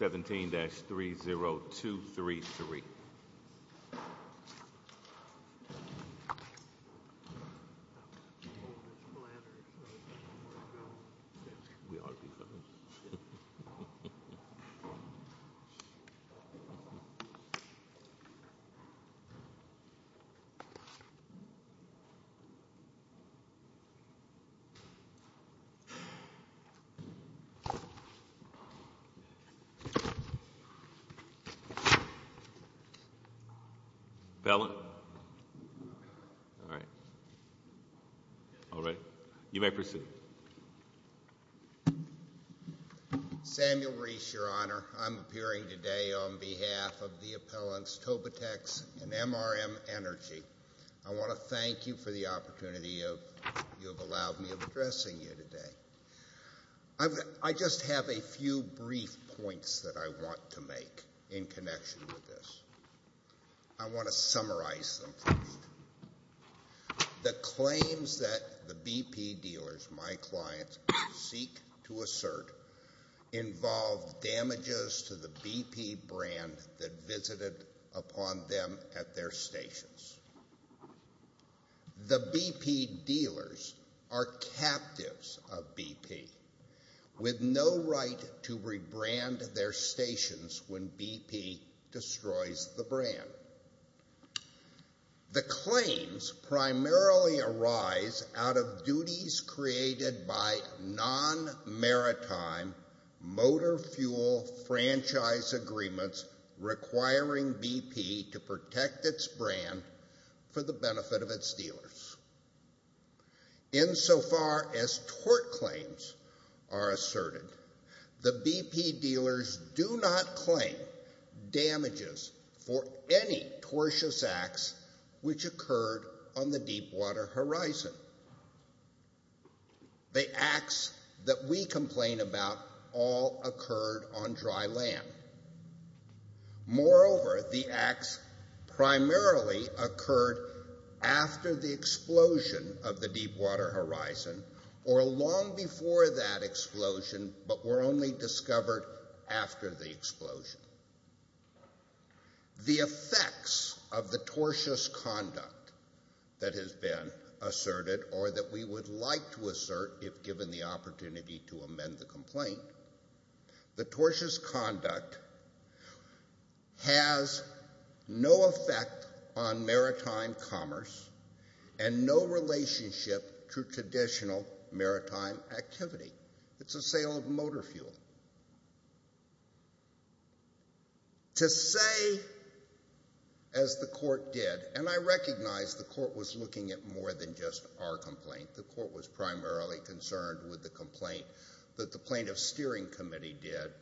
17-30233 Samuel Rees, Your Honor. I'm appearing today on behalf of the appellants Tobitex and MRM Energy. I want to thank you for the opportunity you have allowed me of addressing you today. I just have a few brief points that I want to make in connection with this. I want to summarize them. The claims that the BP dealers, my clients, seek to assert involve damages to the BP brand that visited upon them at their stations. The BP dealers are captives of BP, with no right to rebrand their stations when BP destroys the brand. The claims primarily arise out of duties created by non-maritime motor fuel franchise agreements requiring BP to protect its brand for the benefit of its dealers. Insofar as tort claims are asserted, the BP dealers do not The acts that we complain about all occurred on dry land. Moreover, the acts primarily occurred after the explosion of the Deepwater Horizon, or long before that explosion, but were only that we would like to assert if given the opportunity to amend the complaint. The tortious conduct has no effect on maritime commerce and no relationship to traditional maritime activity. It's a sale of motor fuel. To say, as the court did, and I recognize the court was looking at more than just our complaint. The court was primarily concerned with the complaint that the plaintiff's steering committee did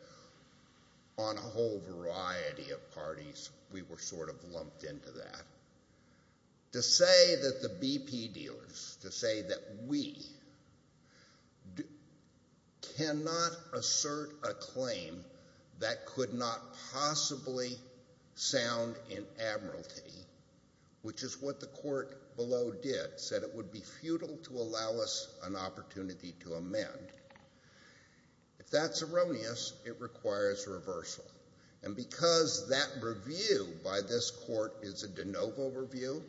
on a whole variety of parties. We were sort of lumped into that. To say that the BP dealers, to say that we, cannot assert a claim that could not possibly sound in that it would be futile to allow us an opportunity to amend, if that's erroneous, it requires reversal. And because that review by this court is a de novo review,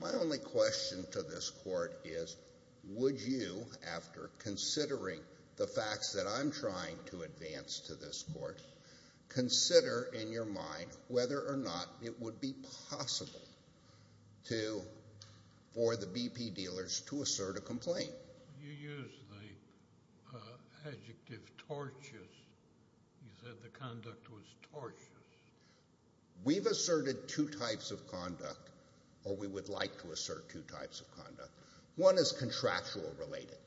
my only question to this court is, would you, after considering the facts that I'm trying to advance to this court, consider in your mind whether or not it would be possible for the BP dealers to assert a complaint? You used the adjective tortious. You said the conduct was tortious. We've asserted two types of conduct, or we would like to assert two types of conduct. One is contractual related,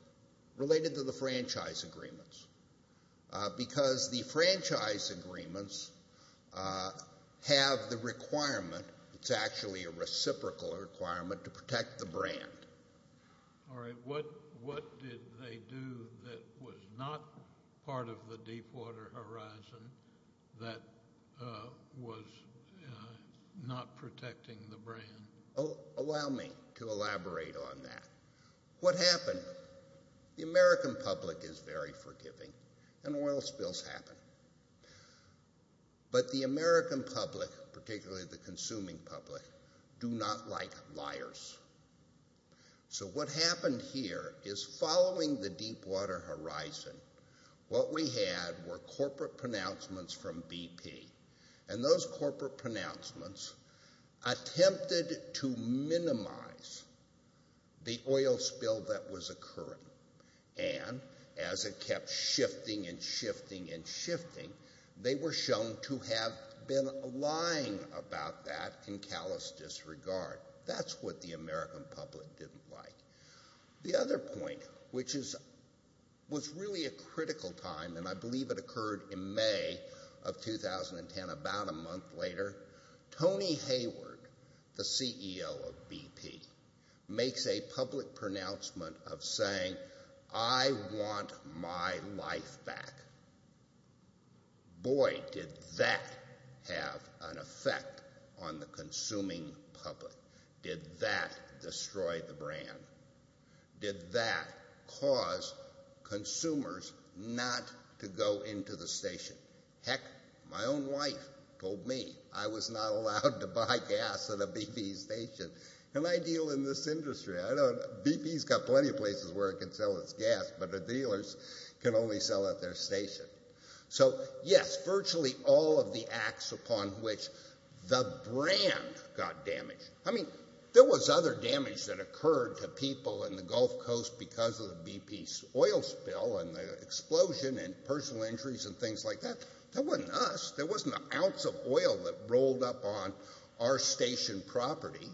related to the franchise agreements. Because the franchise agreements have the requirement, it's actually a reciprocal requirement, to protect the brand. All right, what did they do that was not part of the Deepwater Horizon that was not protecting the brand? Allow me to elaborate on that. What happened? The American public is very forgiving, and oil spills happen. But the American public, particularly the consuming public, do not like liars. So what happened here is following the Deepwater Horizon, what we had were corporate pronouncements from BP. And those corporate pronouncements attempted to minimize the oil spill that was occurring. And as it kept shifting and shifting and shifting, they were shown to have been lying about that in callous disregard. That's what the American public didn't like. The other point, which was really a critical time, and I believe it occurred in May of 2010, about a month later, Tony Hayward, the CEO of BP, makes a public pronouncement of saying, I want my life back. Boy, did that have an effect on the consuming public. Did that destroy the brand? Did that cause consumers not to go into the station? Heck, my own wife told me I was not allowed to buy gas at a BP station. Can I deal in this industry? BP's got plenty of places where it can sell its gas, but the dealers can only sell at their station. So, yes, virtually all of the acts upon which the brand got damaged. I mean, there was other damage that occurred to people in the Gulf Coast because of the BP oil spill and the explosion and personal injuries and things like that. That wasn't us. There wasn't an ounce of oil that rolled up on our station property.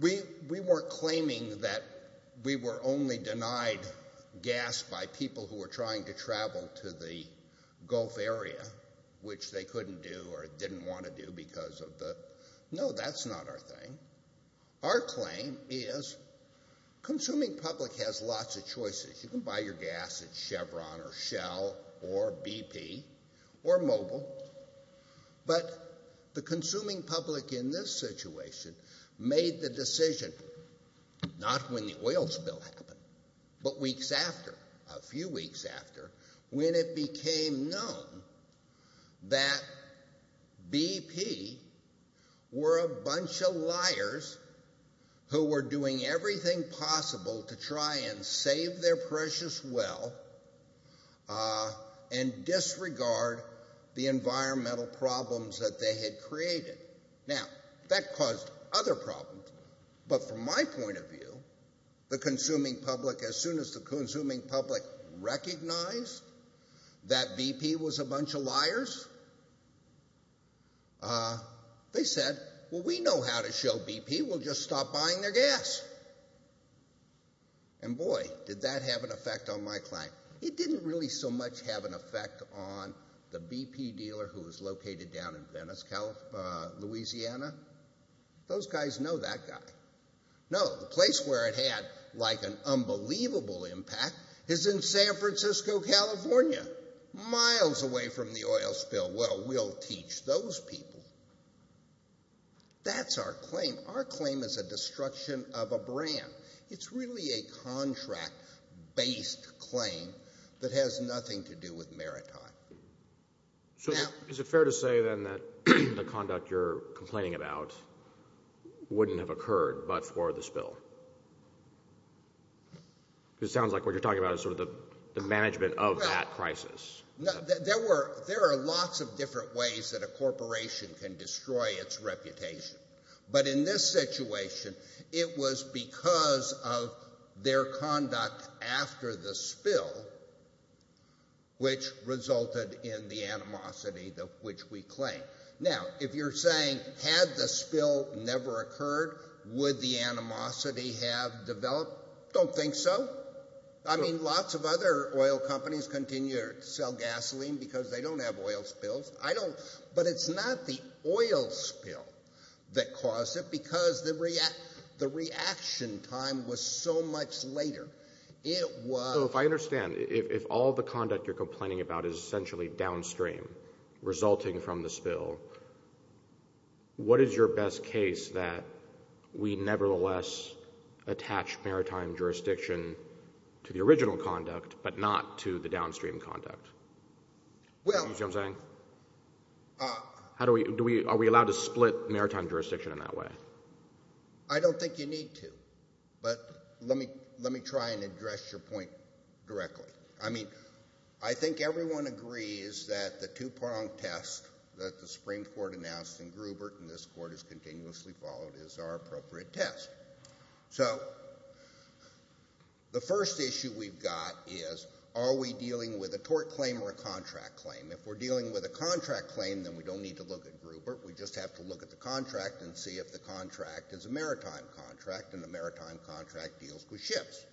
We weren't claiming that we were only denied gas by people who were trying to travel to the Gulf area, which they couldn't do or didn't want to do because of the... No, that's not our thing. Our claim is, consuming public has lots of choices. You can buy your gas at Chevron or Shell or BP or Mobil. But the consuming public in this situation made the decision, not when the oil spill happened, but weeks after, a few weeks after, when it became known that BP were a bunch of liars who were doing everything possible to try and save their precious well and disregard the environmental problems that they had created. Now, that caused other problems, but from my point of view, the consuming public, as soon as the consuming public recognized that BP was a bunch of liars, they said, well, we know how to show BP, we'll just stop buying their gas. And boy, did that have an effect on my client. It didn't really so much have an effect on the BP dealer who was located down in Venice, Louisiana. Those guys know that guy. No, the place where it had like an unbelievable impact is in San Francisco, California, miles away from the oil spill. Well, we'll teach those people. That's our claim. Our claim is a destruction of a brand. It's really a contract-based claim that has nothing to do with maritime. So is it fair to say then that the conduct you're complaining about wouldn't have occurred but for the spill? Because it sounds like what you're talking about is sort of the management of that crisis. There are lots of different ways that a corporation can destroy its reputation. But in this situation, it was because of their conduct after the spill, which resulted in the animosity of which we claim. Now, if you're saying had the spill never occurred, would the animosity have developed? Don't think so. I mean, lots of other oil companies continue to sell gasoline because they don't have oil spills. But it's not the oil spill that caused it because the reaction time was so much later. So if I understand, if all the conduct you're complaining about is essentially downstream resulting from the spill, what is your best case that we nevertheless attach maritime jurisdiction to the original conduct but not to the downstream conduct? You see what I'm saying? Are we allowed to split maritime jurisdiction in that way? I don't think you need to. But let me try and address your point directly. I mean, I think everyone agrees that the Tupac test that the Supreme Court announced in Gruber and this Court has continuously followed is our appropriate test. So the first issue we've got is are we dealing with a tort claim or a contract claim? If we're dealing with a contract claim, then we don't need to look at Gruber. We just have to look at the contract and see if the contract is a maritime contract and the maritime contract deals with ships.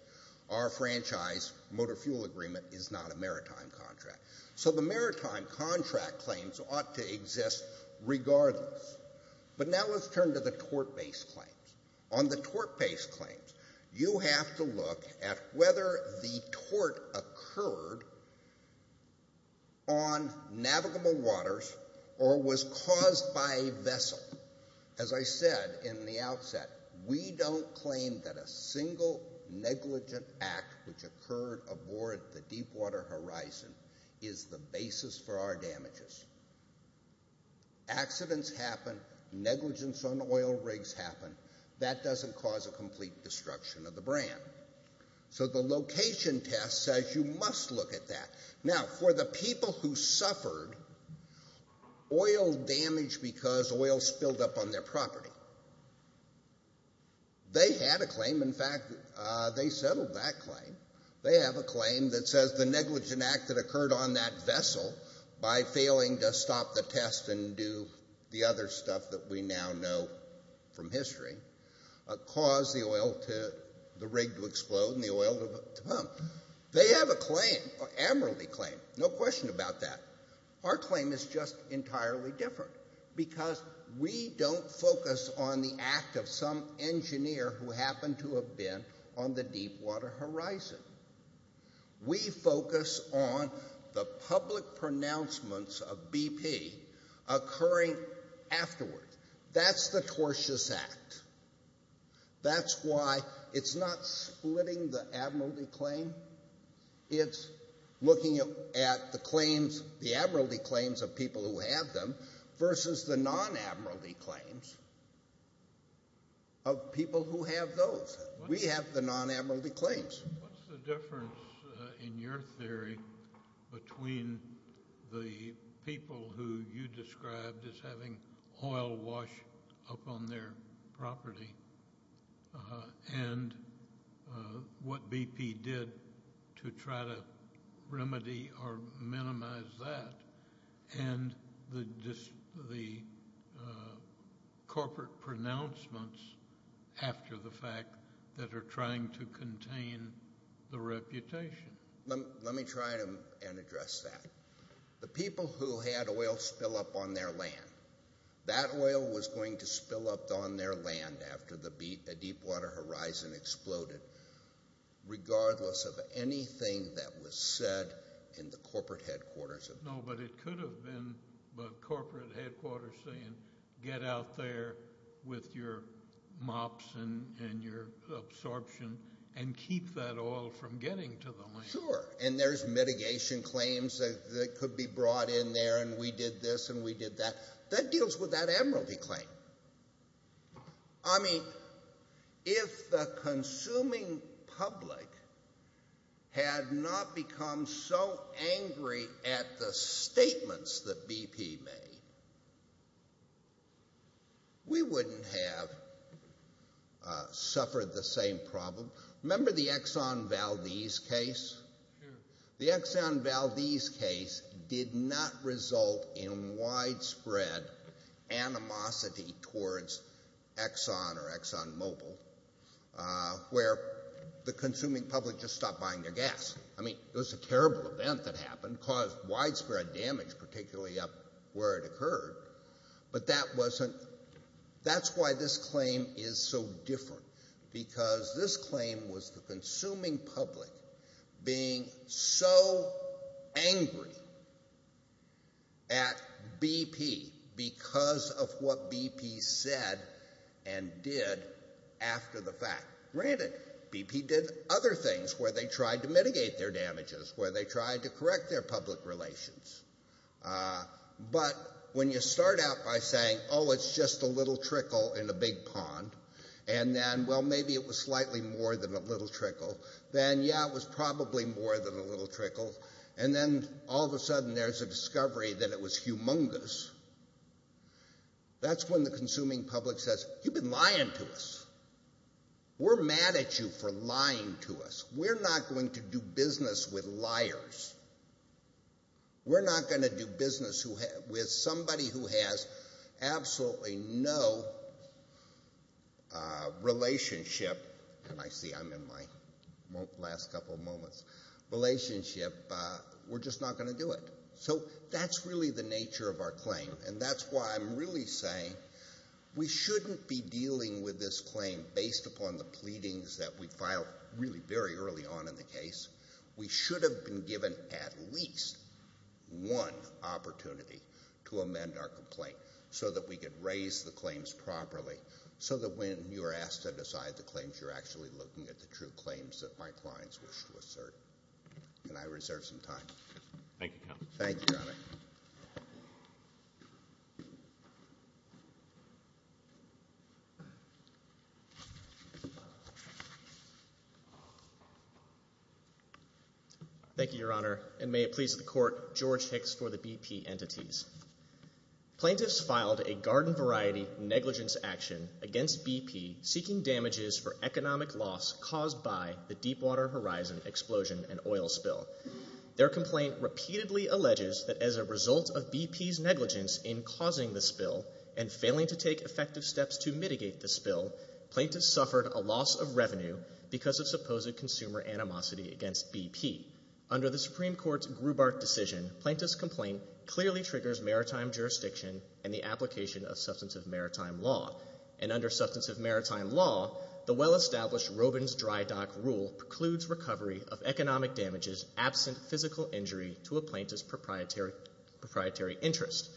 Our franchise motor fuel agreement is not a maritime contract. So the maritime contract claims ought to exist regardless. But now let's turn to the tort-based claims. On the tort-based claims, you have to look at whether the tort occurred on navigable waters or was caused by a vessel. As I said in the outset, we don't claim that a single negligent act which occurred aboard the deepwater horizon is the basis for our damages. Accidents happen. Negligence on oil rigs happen. That doesn't cause a complete destruction of the brand. So the location test says you must look at that. Now, for the people who suffered oil damage because oil spilled up on their property, they had a claim. In fact, they settled that claim. They have a claim that says the negligent act that occurred on that vessel by failing to stop the test and do the other stuff that we now know from history caused the rig to explode and the oil to pump. They have a claim, an admiralty claim. No question about that. Our claim is just entirely different because we don't focus on the act of some engineer who happened to have been on the deepwater horizon. We focus on the public pronouncements of BP occurring afterwards. That's the tortious act. That's why it's not splitting the admiralty claim. It's looking at the claims, the admiralty claims of people who have them versus the non-admiralty claims of people who have those. We have the non-admiralty claims. What's the difference, in your theory, between the people who you described as having oil wash up on their property and what BP did to try to remedy or minimize that and the corporate pronouncements after the fact that are trying to contain the reputation? Let me try and address that. The people who had oil spill up on their land, that oil was going to spill up on their land after the deepwater horizon exploded regardless of anything that was said in the corporate headquarters. No, but it could have been the corporate headquarters saying get out there with your mops and your absorption and keep that oil from getting to the land. Sure, and there's mitigation claims that could be brought in there and we did this and we did that. That deals with that admiralty claim. I mean if the consuming public had not become so angry at the statements that BP made, we wouldn't have suffered the same problem. Remember the Exxon Valdez case? The Exxon Valdez case did not result in widespread animosity towards Exxon or Exxon Mobil where the consuming public just stopped buying their gas. I mean it was a terrible event that happened, caused widespread damage particularly up where it occurred. But that's why this claim is so different because this claim was the consuming public being so angry at BP because of what BP said and did after the fact. Granted, BP did other things where they tried to mitigate their damages, where they tried to correct their public relations. But when you start out by saying oh it's just a little trickle in a big pond and then well maybe it was slightly more than a little trickle, then yeah it was probably more than a little trickle and then all of a sudden there's a discovery that it was humongous, that's when the consuming public says you've been lying to us. We're mad at you for lying to us. We're not going to do business with liars. We're not going to do business with somebody who has absolutely no relationship, and I see I'm in my last couple of moments, relationship. We're just not going to do it. So that's really the nature of our claim and that's why I'm really saying we shouldn't be dealing with this claim based upon the pleadings that we filed really very early on in the case. We should have been given at least one opportunity to amend our complaint so that we could raise the claims properly, so that when you're asked to decide the claims you're actually looking at the true claims that my clients wish to assert. Can I reserve some time? Thank you, Counsel. Thank you, Your Honor. Thank you, Your Honor, and may it please the Court, George Hicks for the BP entities. Plaintiffs filed a garden variety negligence action against BP seeking damages for economic loss caused by the Deepwater Horizon explosion and oil spill. Their complaint repeatedly alleges that as a result of BP's negligence in causing the spill and failing to take effective steps to mitigate the spill, plaintiffs suffered a loss of revenue because of supposed consumer animosity against BP. Under the Supreme Court's Grubart decision, plaintiff's complaint clearly triggers maritime jurisdiction and the application of substantive maritime law. And under substantive maritime law, the well-established Robins Dry Dock Rule precludes recovery of economic damages absent physical injury to a plaintiff's proprietary interest.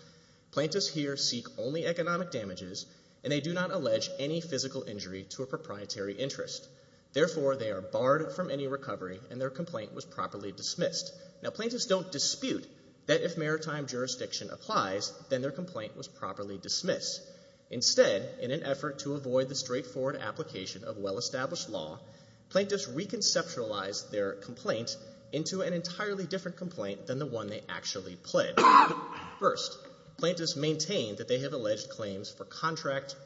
Plaintiffs here seek only economic damages, and they do not allege any physical injury to a proprietary interest. Therefore, they are barred from any recovery, and their complaint was properly dismissed. Now, plaintiffs don't dispute that if maritime jurisdiction applies, then their complaint was properly dismissed. Instead, in an effort to avoid the straightforward application of well-established law, plaintiffs reconceptualize their complaint into an entirely different complaint than the one they actually pled. First, plaintiffs maintain that they have alleged claims for contract,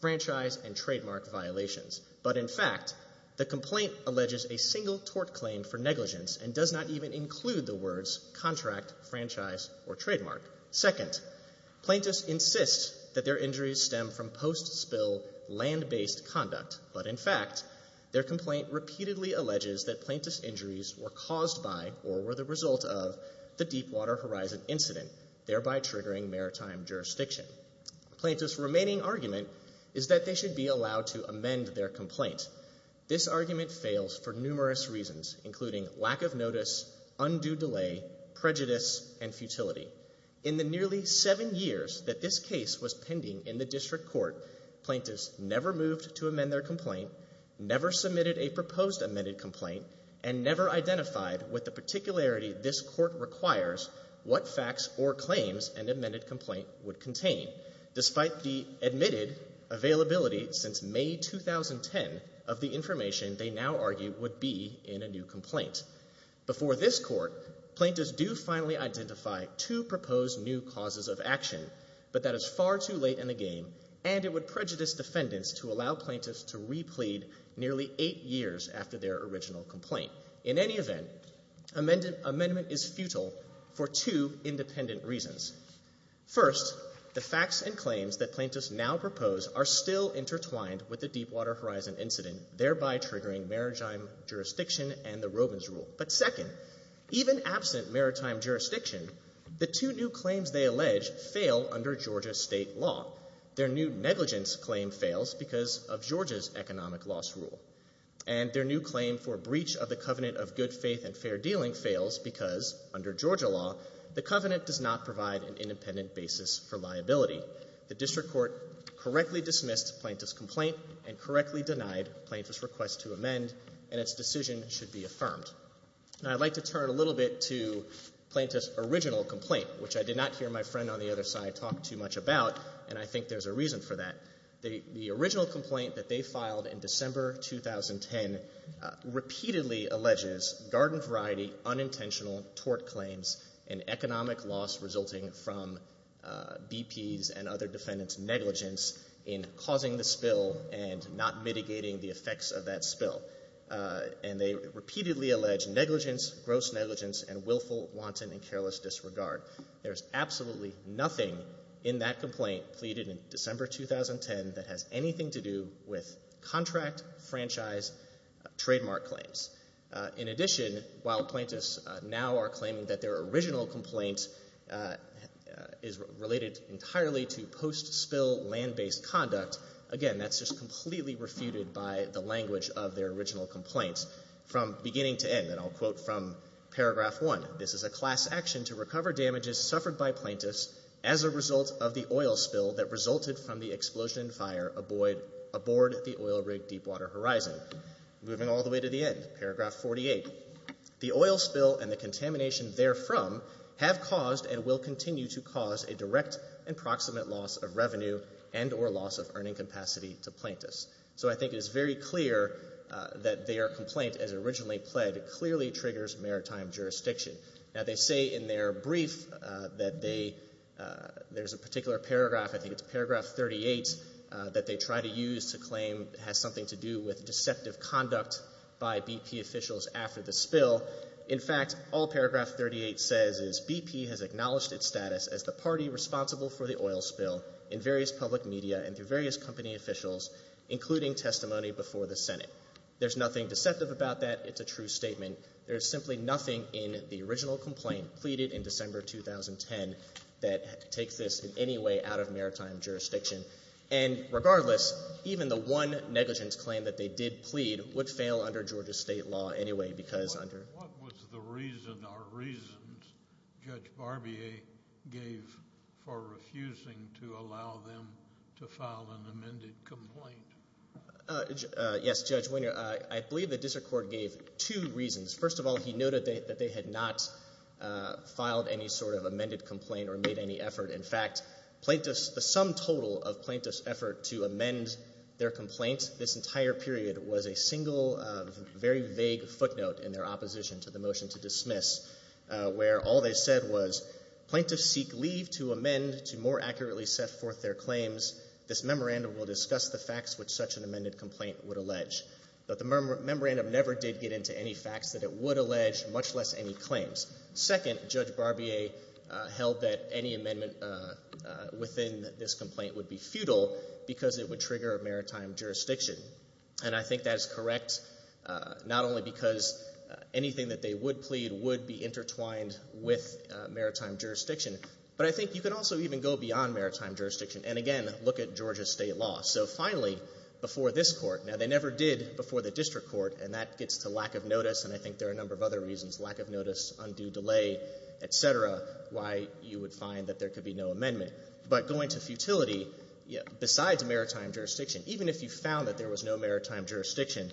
franchise, and trademark violations. But in fact, the complaint alleges a single tort claim for negligence and does not even include the words contract, franchise, or trademark. Second, plaintiffs insist that their injuries stem from post-spill land-based conduct. But in fact, their complaint repeatedly alleges that plaintiffs' injuries were caused by or were the result of the Deepwater Horizon incident, thereby triggering maritime jurisdiction. Plaintiffs' remaining argument is that they should be allowed to amend their complaint. This argument fails for numerous reasons, including lack of notice, undue delay, prejudice, and futility. In the nearly seven years that this case was pending in the district court, plaintiffs never moved to amend their complaint, never submitted a proposed amended complaint, and never identified what the particularity this court requires, what facts or claims an amended complaint would contain, despite the admitted availability since May 2010 of the information they now argue would be in a new complaint. Before this court, plaintiffs do finally identify two proposed new causes of action, but that is far too late in the game, and it would prejudice defendants to allow plaintiffs to replead nearly eight years after their original complaint. In any event, amendment is futile for two independent reasons. First, the facts and claims that plaintiffs now propose are still intertwined with the Deepwater Horizon incident, thereby triggering maritime jurisdiction and the Robins rule. But second, even absent maritime jurisdiction, the two new claims they allege fail under Georgia state law. Their new negligence claim fails because of Georgia's economic loss rule, and their new claim for breach of the covenant of good faith and fair dealing fails because, under Georgia law, the covenant does not provide an independent basis for liability. The district court correctly dismissed plaintiff's complaint and correctly denied plaintiff's request to amend, and its decision should be affirmed. Now I'd like to turn a little bit to plaintiff's original complaint, which I did not hear my friend on the other side talk too much about, and I think there's a reason for that. The original complaint that they filed in December 2010 repeatedly alleges garden variety, unintentional tort claims, and economic loss resulting from BP's and other defendants' negligence in causing the spill and not mitigating the effects of that spill. And they repeatedly allege negligence, gross negligence, and willful, wanton, and careless disregard. There's absolutely nothing in that complaint, pleaded in December 2010, that has anything to do with contract franchise trademark claims. In addition, while plaintiffs now are claiming that their original complaint is related entirely to post-spill land-based conduct, again, that's just completely refuted by the language of their original complaints from beginning to end. And I'll quote from Paragraph 1. This is a class action to recover damages suffered by plaintiffs as a result of the oil spill that resulted from the explosion and fire aboard the oil rig Deepwater Horizon. Moving all the way to the end, Paragraph 48. The oil spill and the contamination therefrom have caused and will continue to cause a direct and proximate loss of revenue and or loss of earning capacity to plaintiffs. So I think it is very clear that their complaint, as originally pled, clearly triggers maritime jurisdiction. Now, they say in their brief that they, there's a particular paragraph, I think it's Paragraph 38, that they try to use to claim has something to do with deceptive conduct by BP officials after the spill. In fact, all Paragraph 38 says is BP has acknowledged its status as the party responsible for the oil spill in various public media and through various company officials, including testimony before the Senate. There's nothing deceptive about that. It's a true statement. There's simply nothing in the original complaint, pleaded in December 2010, that takes this in any way out of maritime jurisdiction. And regardless, even the one negligence claim that they did plead would fail under Georgia state law anyway because under what was the reason or reasons Judge Barbier gave for refusing to allow them to file an amended complaint? Yes, Judge Winger, I believe the district court gave two reasons. First of all, he noted that they had not filed any sort of amended complaint or made any effort. In fact, plaintiffs, the sum total of plaintiffs' effort to amend their complaint this entire period was a single, very vague footnote in their opposition to the motion to dismiss where all they said was, plaintiffs seek leave to amend to more accurately set forth their claims. This memorandum will discuss the facts which such an amended complaint would allege. But the memorandum never did get into any facts that it would allege, much less any claims. Second, Judge Barbier held that any amendment within this complaint would be futile because it would trigger maritime jurisdiction. And I think that is correct not only because anything that they would plead would be intertwined with maritime jurisdiction, but I think you can also even go beyond maritime jurisdiction and, again, look at Georgia state law. So finally, before this court, now they never did before the district court, and that gets to lack of notice, and I think there are a number of other reasons, lack of notice, undue delay, et cetera, why you would find that there could be no amendment. But going to futility, besides maritime jurisdiction, even if you found that there was no maritime jurisdiction,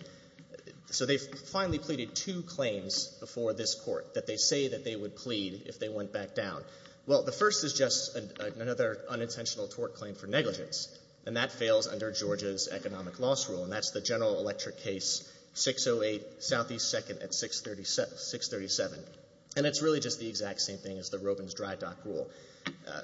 so they finally pleaded two claims before this court that they say that they would plead if they went back down. Well, the first is just another unintentional tort claim for negligence, and that fails under Georgia's economic loss rule, and that's the General Electric case, 608 Southeast 2nd at 637. And it's really just the exact same thing as the Robins dry dock rule.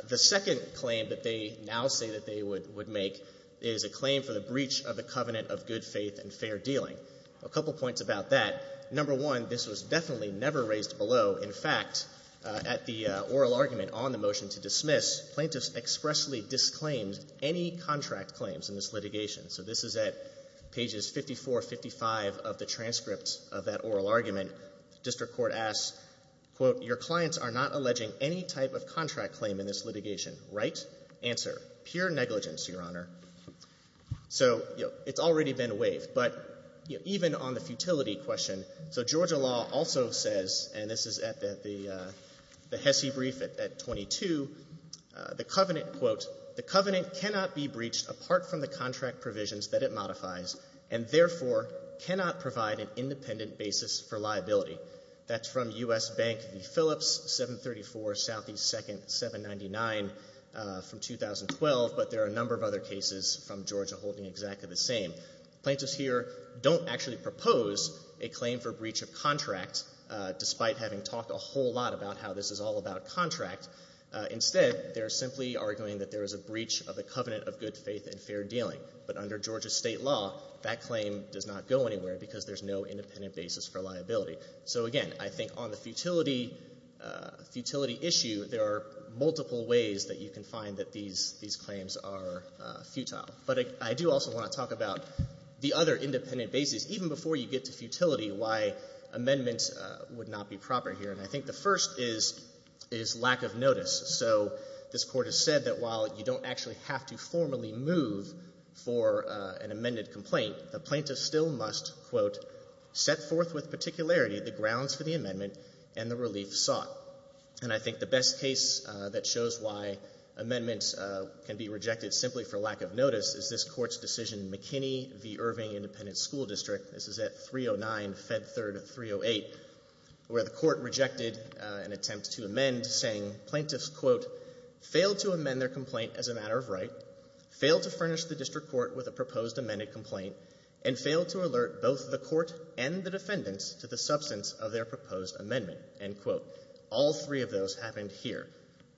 The second claim that they now say that they would make is a claim for the breach of the covenant of good faith and fair dealing. A couple points about that. Number one, this was definitely never raised below. In fact, at the oral argument on the motion to dismiss, plaintiffs expressly disclaimed any contract claims in this litigation. So this is at pages 54, 55 of the transcript of that oral argument. The district court asks, quote, your clients are not alleging any type of contract claim in this litigation. Right? Answer, pure negligence, Your Honor. So, you know, it's already been waived. But even on the futility question, so Georgia law also says, and this is at the HESI brief at 22, the covenant, quote, the covenant cannot be breached apart from the contract provisions that it modifies and therefore cannot provide an independent basis for liability. That's from U.S. Bank v. Phillips, 734 Southeast 2nd, 799 from 2012. But there are a number of other cases from Georgia holding exactly the same. Plaintiffs here don't actually propose a claim for breach of contract, despite having talked a whole lot about how this is all about contract. Instead, they're simply arguing that there is a breach of the covenant of good faith and fair dealing. But under Georgia state law, that claim does not go anywhere because there's no independent basis for liability. So, again, I think on the futility issue, there are multiple ways that you can find that these claims are futile. But I do also want to talk about the other independent basis, even before you get to futility, why amendments would not be proper here. And I think the first is lack of notice. So this court has said that while you don't actually have to formally move for an amended complaint, the plaintiff still must, quote, set forth with particularity the grounds for the amendment and the relief sought. And I think the best case that shows why amendments can be rejected simply for lack of notice is this court's decision, McKinney v. Irving Independent School District. This is at 309 Fed Third 308, where the court rejected an attempt to amend, saying plaintiffs, quote, failed to amend their complaint as a matter of right, failed to furnish the district court with a proposed amended complaint, and failed to alert both the court and the defendants to the substance of their proposed amendment, end quote. All three of those happened here.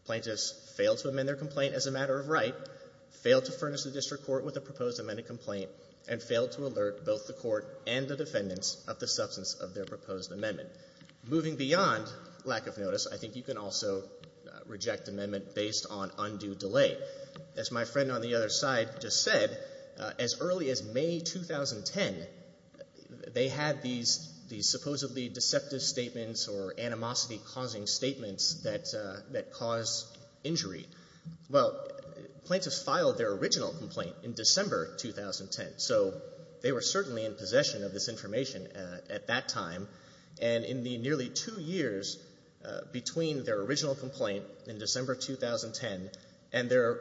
Plaintiffs failed to amend their complaint as a matter of right, failed to furnish the district court with a proposed amended complaint, and failed to alert both the court and the defendants of the substance of their proposed amendment. Moving beyond lack of notice, I think you can also reject amendment based on undue delay. As my friend on the other side just said, as early as May 2010, they had these supposedly deceptive statements or animosity-causing statements that caused injury. Well, plaintiffs filed their original complaint in December 2010. So they were certainly in possession of this information at that time, and in the nearly two years between their original complaint in December 2010 and their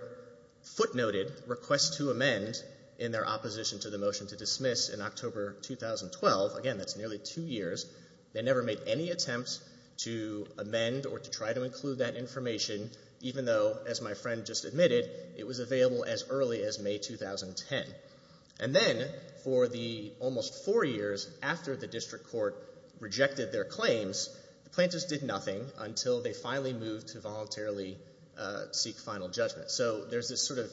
footnoted request to amend in their opposition to the motion to dismiss in October 2012, again, that's nearly two years, they never made any attempts to amend or to try to include that information, even though, as my friend just admitted, it was available as early as May 2010. And then, for the almost four years after the district court rejected their claims, the plaintiffs did nothing until they finally moved to voluntarily seek final judgment. So there's this sort of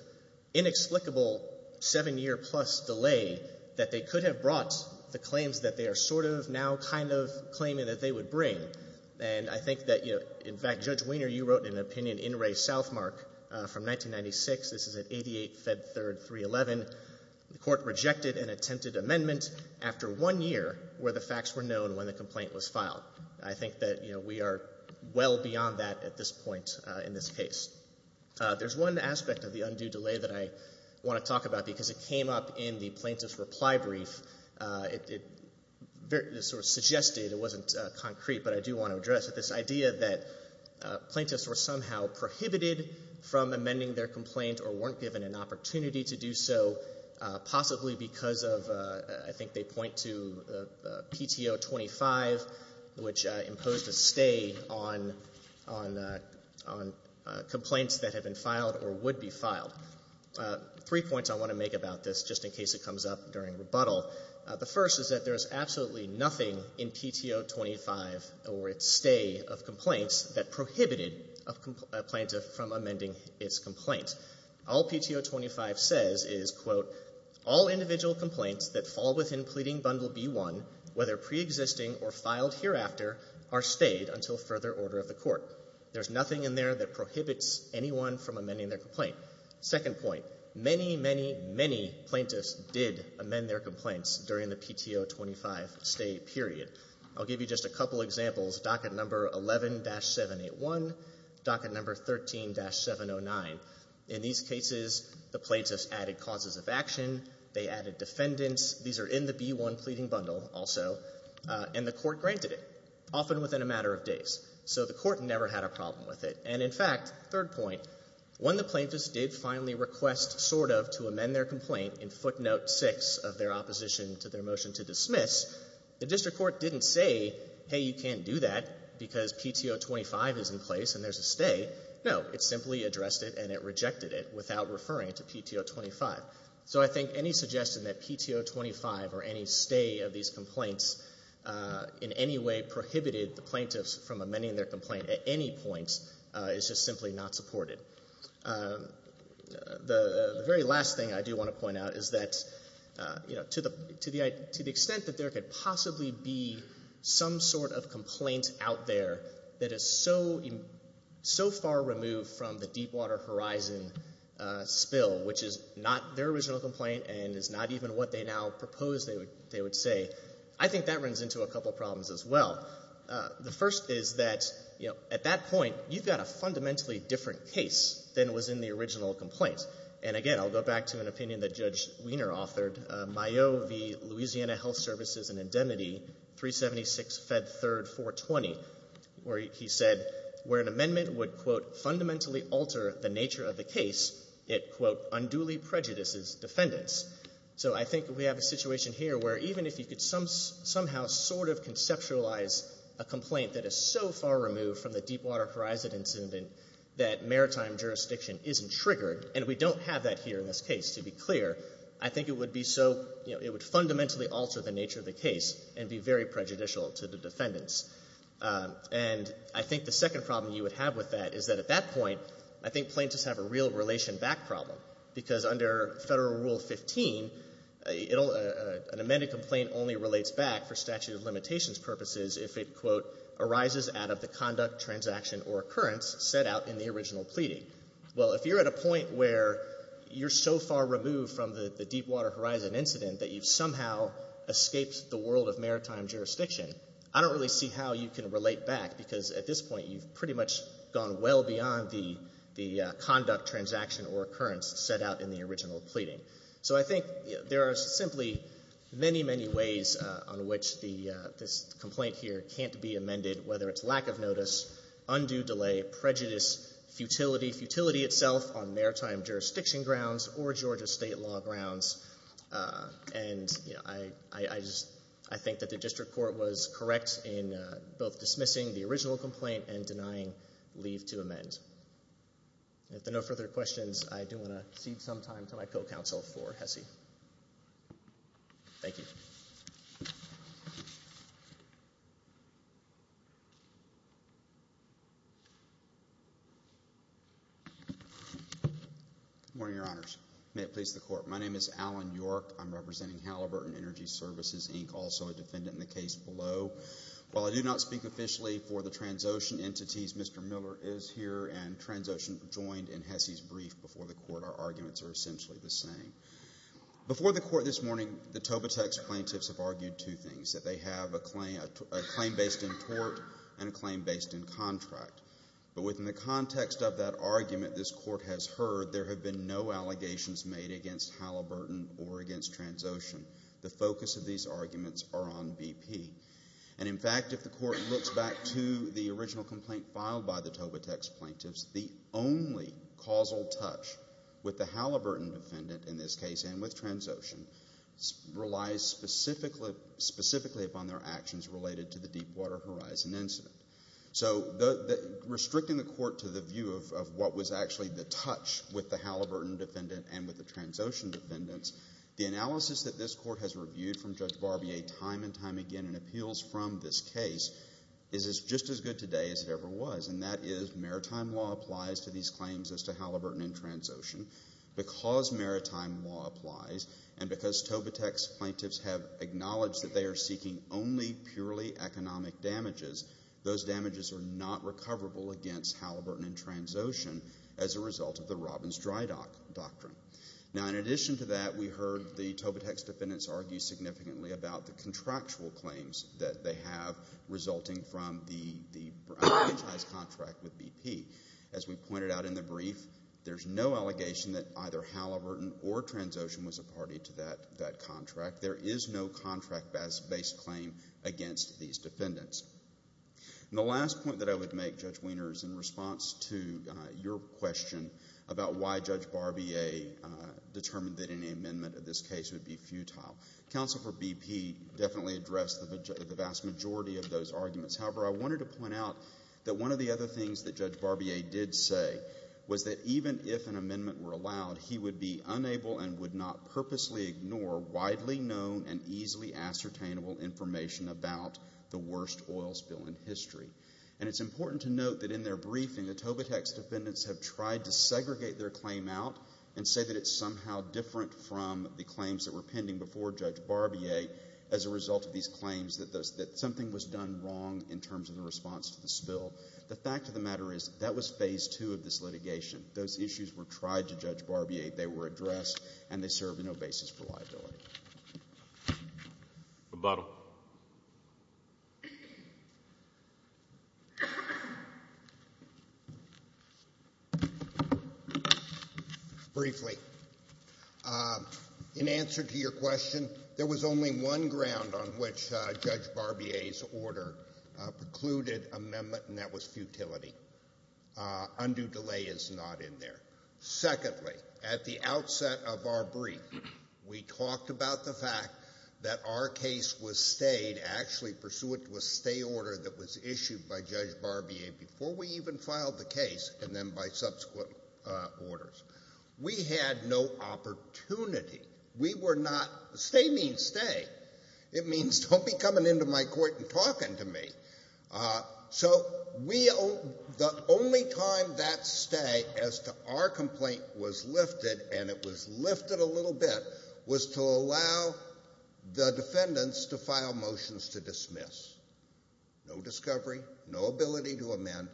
inexplicable seven-year-plus delay that they could have brought the claims that they are sort of now kind of claiming that they would bring. And I think that, you know, in fact, Judge Weiner, you wrote an opinion in Ray Southmark from 1996. This is at 88 Fed Third 311. The court rejected an attempted amendment after one year where the facts were known when the complaint was filed. I think that, you know, we are well beyond that at this point in this case. There's one aspect of the undue delay that I want to talk about because it came up in the plaintiff's reply brief. It sort of suggested, it wasn't concrete, but I do want to address it, this idea that plaintiffs were somehow prohibited from amending their complaint or weren't given an opportunity to do so, possibly because of, I think they point to PTO 25, which imposed a stay on complaints that have been filed or would be filed. Three points I want to make about this, just in case it comes up during rebuttal. The first is that there is absolutely nothing in PTO 25 or its stay of complaints that prohibited a plaintiff from amending its complaint. All PTO 25 says is, quote, All individual complaints that fall within pleading bundle B1, whether preexisting or filed hereafter, are stayed until further order of the court. There's nothing in there that prohibits anyone from amending their complaint. Second point, many, many, many plaintiffs did amend their complaints during the PTO 25 stay period. I'll give you just a couple examples, docket number 11-781, docket number 13-709. In these cases, the plaintiffs added causes of action. They added defendants. These are in the B1 pleading bundle also, and the court granted it, often within a matter of days. So the court never had a problem with it. And in fact, third point, when the plaintiffs did finally request sort of to amend their complaint in footnote 6 of their opposition to their motion to dismiss, the district court didn't say, Hey, you can't do that because PTO 25 is in place and there's a stay. No, it simply addressed it and it rejected it without referring it to PTO 25. So I think any suggestion that PTO 25 or any stay of these complaints in any way prohibited the plaintiffs from amending their complaint at any point is just simply not supported. The very last thing I do want to point out is that, you know, to the extent that there could possibly be some sort of complaint out there that is so far removed from the Deepwater Horizon spill, which is not their original complaint and is not even what they now propose they would say, I think that runs into a couple problems as well. The first is that, you know, at that point, you've got a fundamentally different case than was in the original complaint. And again, I'll go back to an opinion that Judge Wiener authored, Mayo v. Louisiana Health Services and Indemnity 376 Fed 3rd 420, where he said where an amendment would, quote, fundamentally alter the nature of the case, it, quote, unduly prejudices defendants. So I think we have a situation here where even if you could somehow sort of conceptualize a complaint that is so far removed from the Deepwater Horizon incident that maritime jurisdiction isn't triggered, and we don't have that here in this case, to be clear, I think it would be so, you know, it would fundamentally alter the nature of the case and be very prejudicial to the defendants. And I think the second problem you would have with that is that at that point, I think plaintiffs have a real relation back problem. Because under Federal Rule 15, an amended complaint only relates back for statute of limitations purposes if it, quote, arises out of the conduct, transaction, or occurrence set out in the original pleading. Well, if you're at a point where you're so far removed from the Deepwater Horizon incident that you've somehow escaped the world of maritime jurisdiction, I don't really see how you can relate back because at this point you've pretty much gone well beyond the conduct, transaction, or occurrence set out in the original pleading. So I think there are simply many, many ways on which this complaint here can't be amended, whether it's lack of notice, undue delay, prejudice, futility, futility itself on maritime jurisdiction grounds or Georgia state law grounds. And I think that the district court was correct in both dismissing the original complaint and denying leave to amend. With no further questions, I do want to cede some time to my co-counsel for Hesse. Thank you. Good morning, Your Honors. May it please the court. My name is Alan York. I'm representing Halliburton Energy Services, Inc., also a defendant in the case below. While I do not speak officially for the Transocean entities, Mr. Miller is here and Transocean joined in Hesse's brief before the court. Our arguments are essentially the same. Before the court this morning, the Tobitax plaintiffs have argued two things, that they have a claim based in tort and a claim based in contract. But within the context of that argument this court has heard, there have been no allegations made against Halliburton or against Transocean. The focus of these arguments are on BP. And, in fact, if the court looks back to the original complaint filed by the Tobitax plaintiffs, the only causal touch with the Halliburton defendant in this case and with Transocean relies specifically upon their actions related to the Deepwater Horizon incident. So restricting the court to the view of what was actually the touch with the Halliburton defendant and with the Transocean defendants, the analysis that this court has reviewed from Judge Barbier time and time again and appeals from this case is just as good today as it ever was, and that is maritime law applies to these claims as to Halliburton and Transocean. Because maritime law applies and because Tobitax plaintiffs have acknowledged that they are seeking only purely economic damages, those damages are not recoverable against Halliburton and Transocean as a result of the Robbins-Drydock doctrine. Now, in addition to that, we heard the Tobitax defendants argue significantly about the contractual claims that they have resulting from the franchise contract with BP. As we pointed out in the brief, there's no allegation that either Halliburton or Transocean was a party to that contract. There is no contract-based claim against these defendants. And the last point that I would make, Judge Wiener, is in response to your question about why Judge Barbier determined that any amendment of this case would be futile. Counsel for BP definitely addressed the vast majority of those arguments. However, I wanted to point out that one of the other things that Judge Barbier did say was that even if an amendment were allowed, he would be unable and would not purposely ignore widely known and easily ascertainable information about the worst oil spill in history. And it's important to note that in their briefing, the Tobitax defendants have tried to segregate their claim out and say that it's somehow different from the claims that were pending before Judge Barbier as a result of these claims that something was done wrong in terms of the response to the spill. The fact of the matter is that was phase two of this litigation. Those issues were tried to Judge Barbier, they were addressed, and they served no basis for liability. Rebuttal. Briefly. In answer to your question, there was only one ground on which Judge Barbier's order precluded amendment, and that was futility. Undue delay is not in there. Secondly, at the outset of our brief, we talked about the fact that our case was stayed, actually pursuant to a stay order that was issued by Judge Barbier before we even filed the case and then by subsequent orders. We had no opportunity. We were not – stay means stay. It means don't be coming into my court and talking to me. So the only time that stay as to our complaint was lifted, and it was lifted a little bit, was to allow the defendants to file motions to dismiss. No discovery, no ability to amend.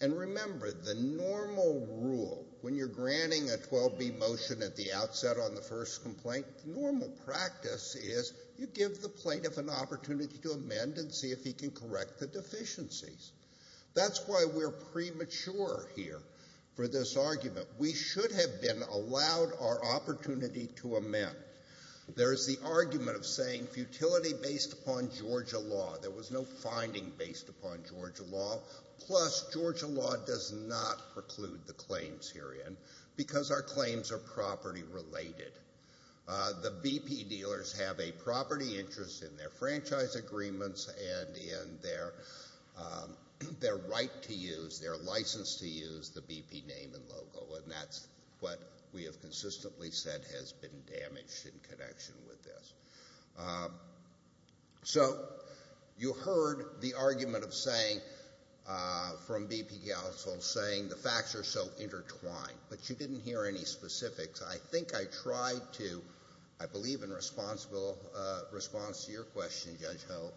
And remember, the normal rule, when you're granting a 12B motion at the outset on the first complaint, normal practice is you give the plaintiff an opportunity to amend and see if he can correct the deficiencies. That's why we're premature here for this argument. We should have been allowed our opportunity to amend. There is the argument of saying futility based upon Georgia law. There was no finding based upon Georgia law. Plus, Georgia law does not preclude the claims herein because our claims are property related. The BP dealers have a property interest in their franchise agreements and in their right to use, their license to use the BP name and logo, and that's what we have consistently said has been damaged in connection with this. So you heard the argument of saying, from BP counsel, saying the facts are so intertwined, but you didn't hear any specifics. I think I tried to, I believe in response to your question, Judge Ho,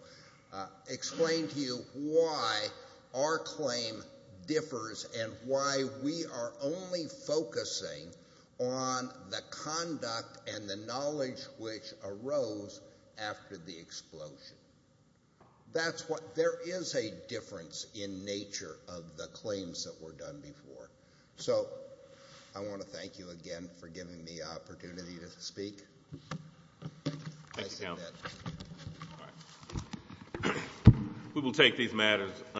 explain to you why our claim differs and why we are only focusing on the conduct and the knowledge which arose after the explosion. That's what, there is a difference in nature of the claims that were done before. So I want to thank you again for giving me the opportunity to speak. I see that. We will take these matters.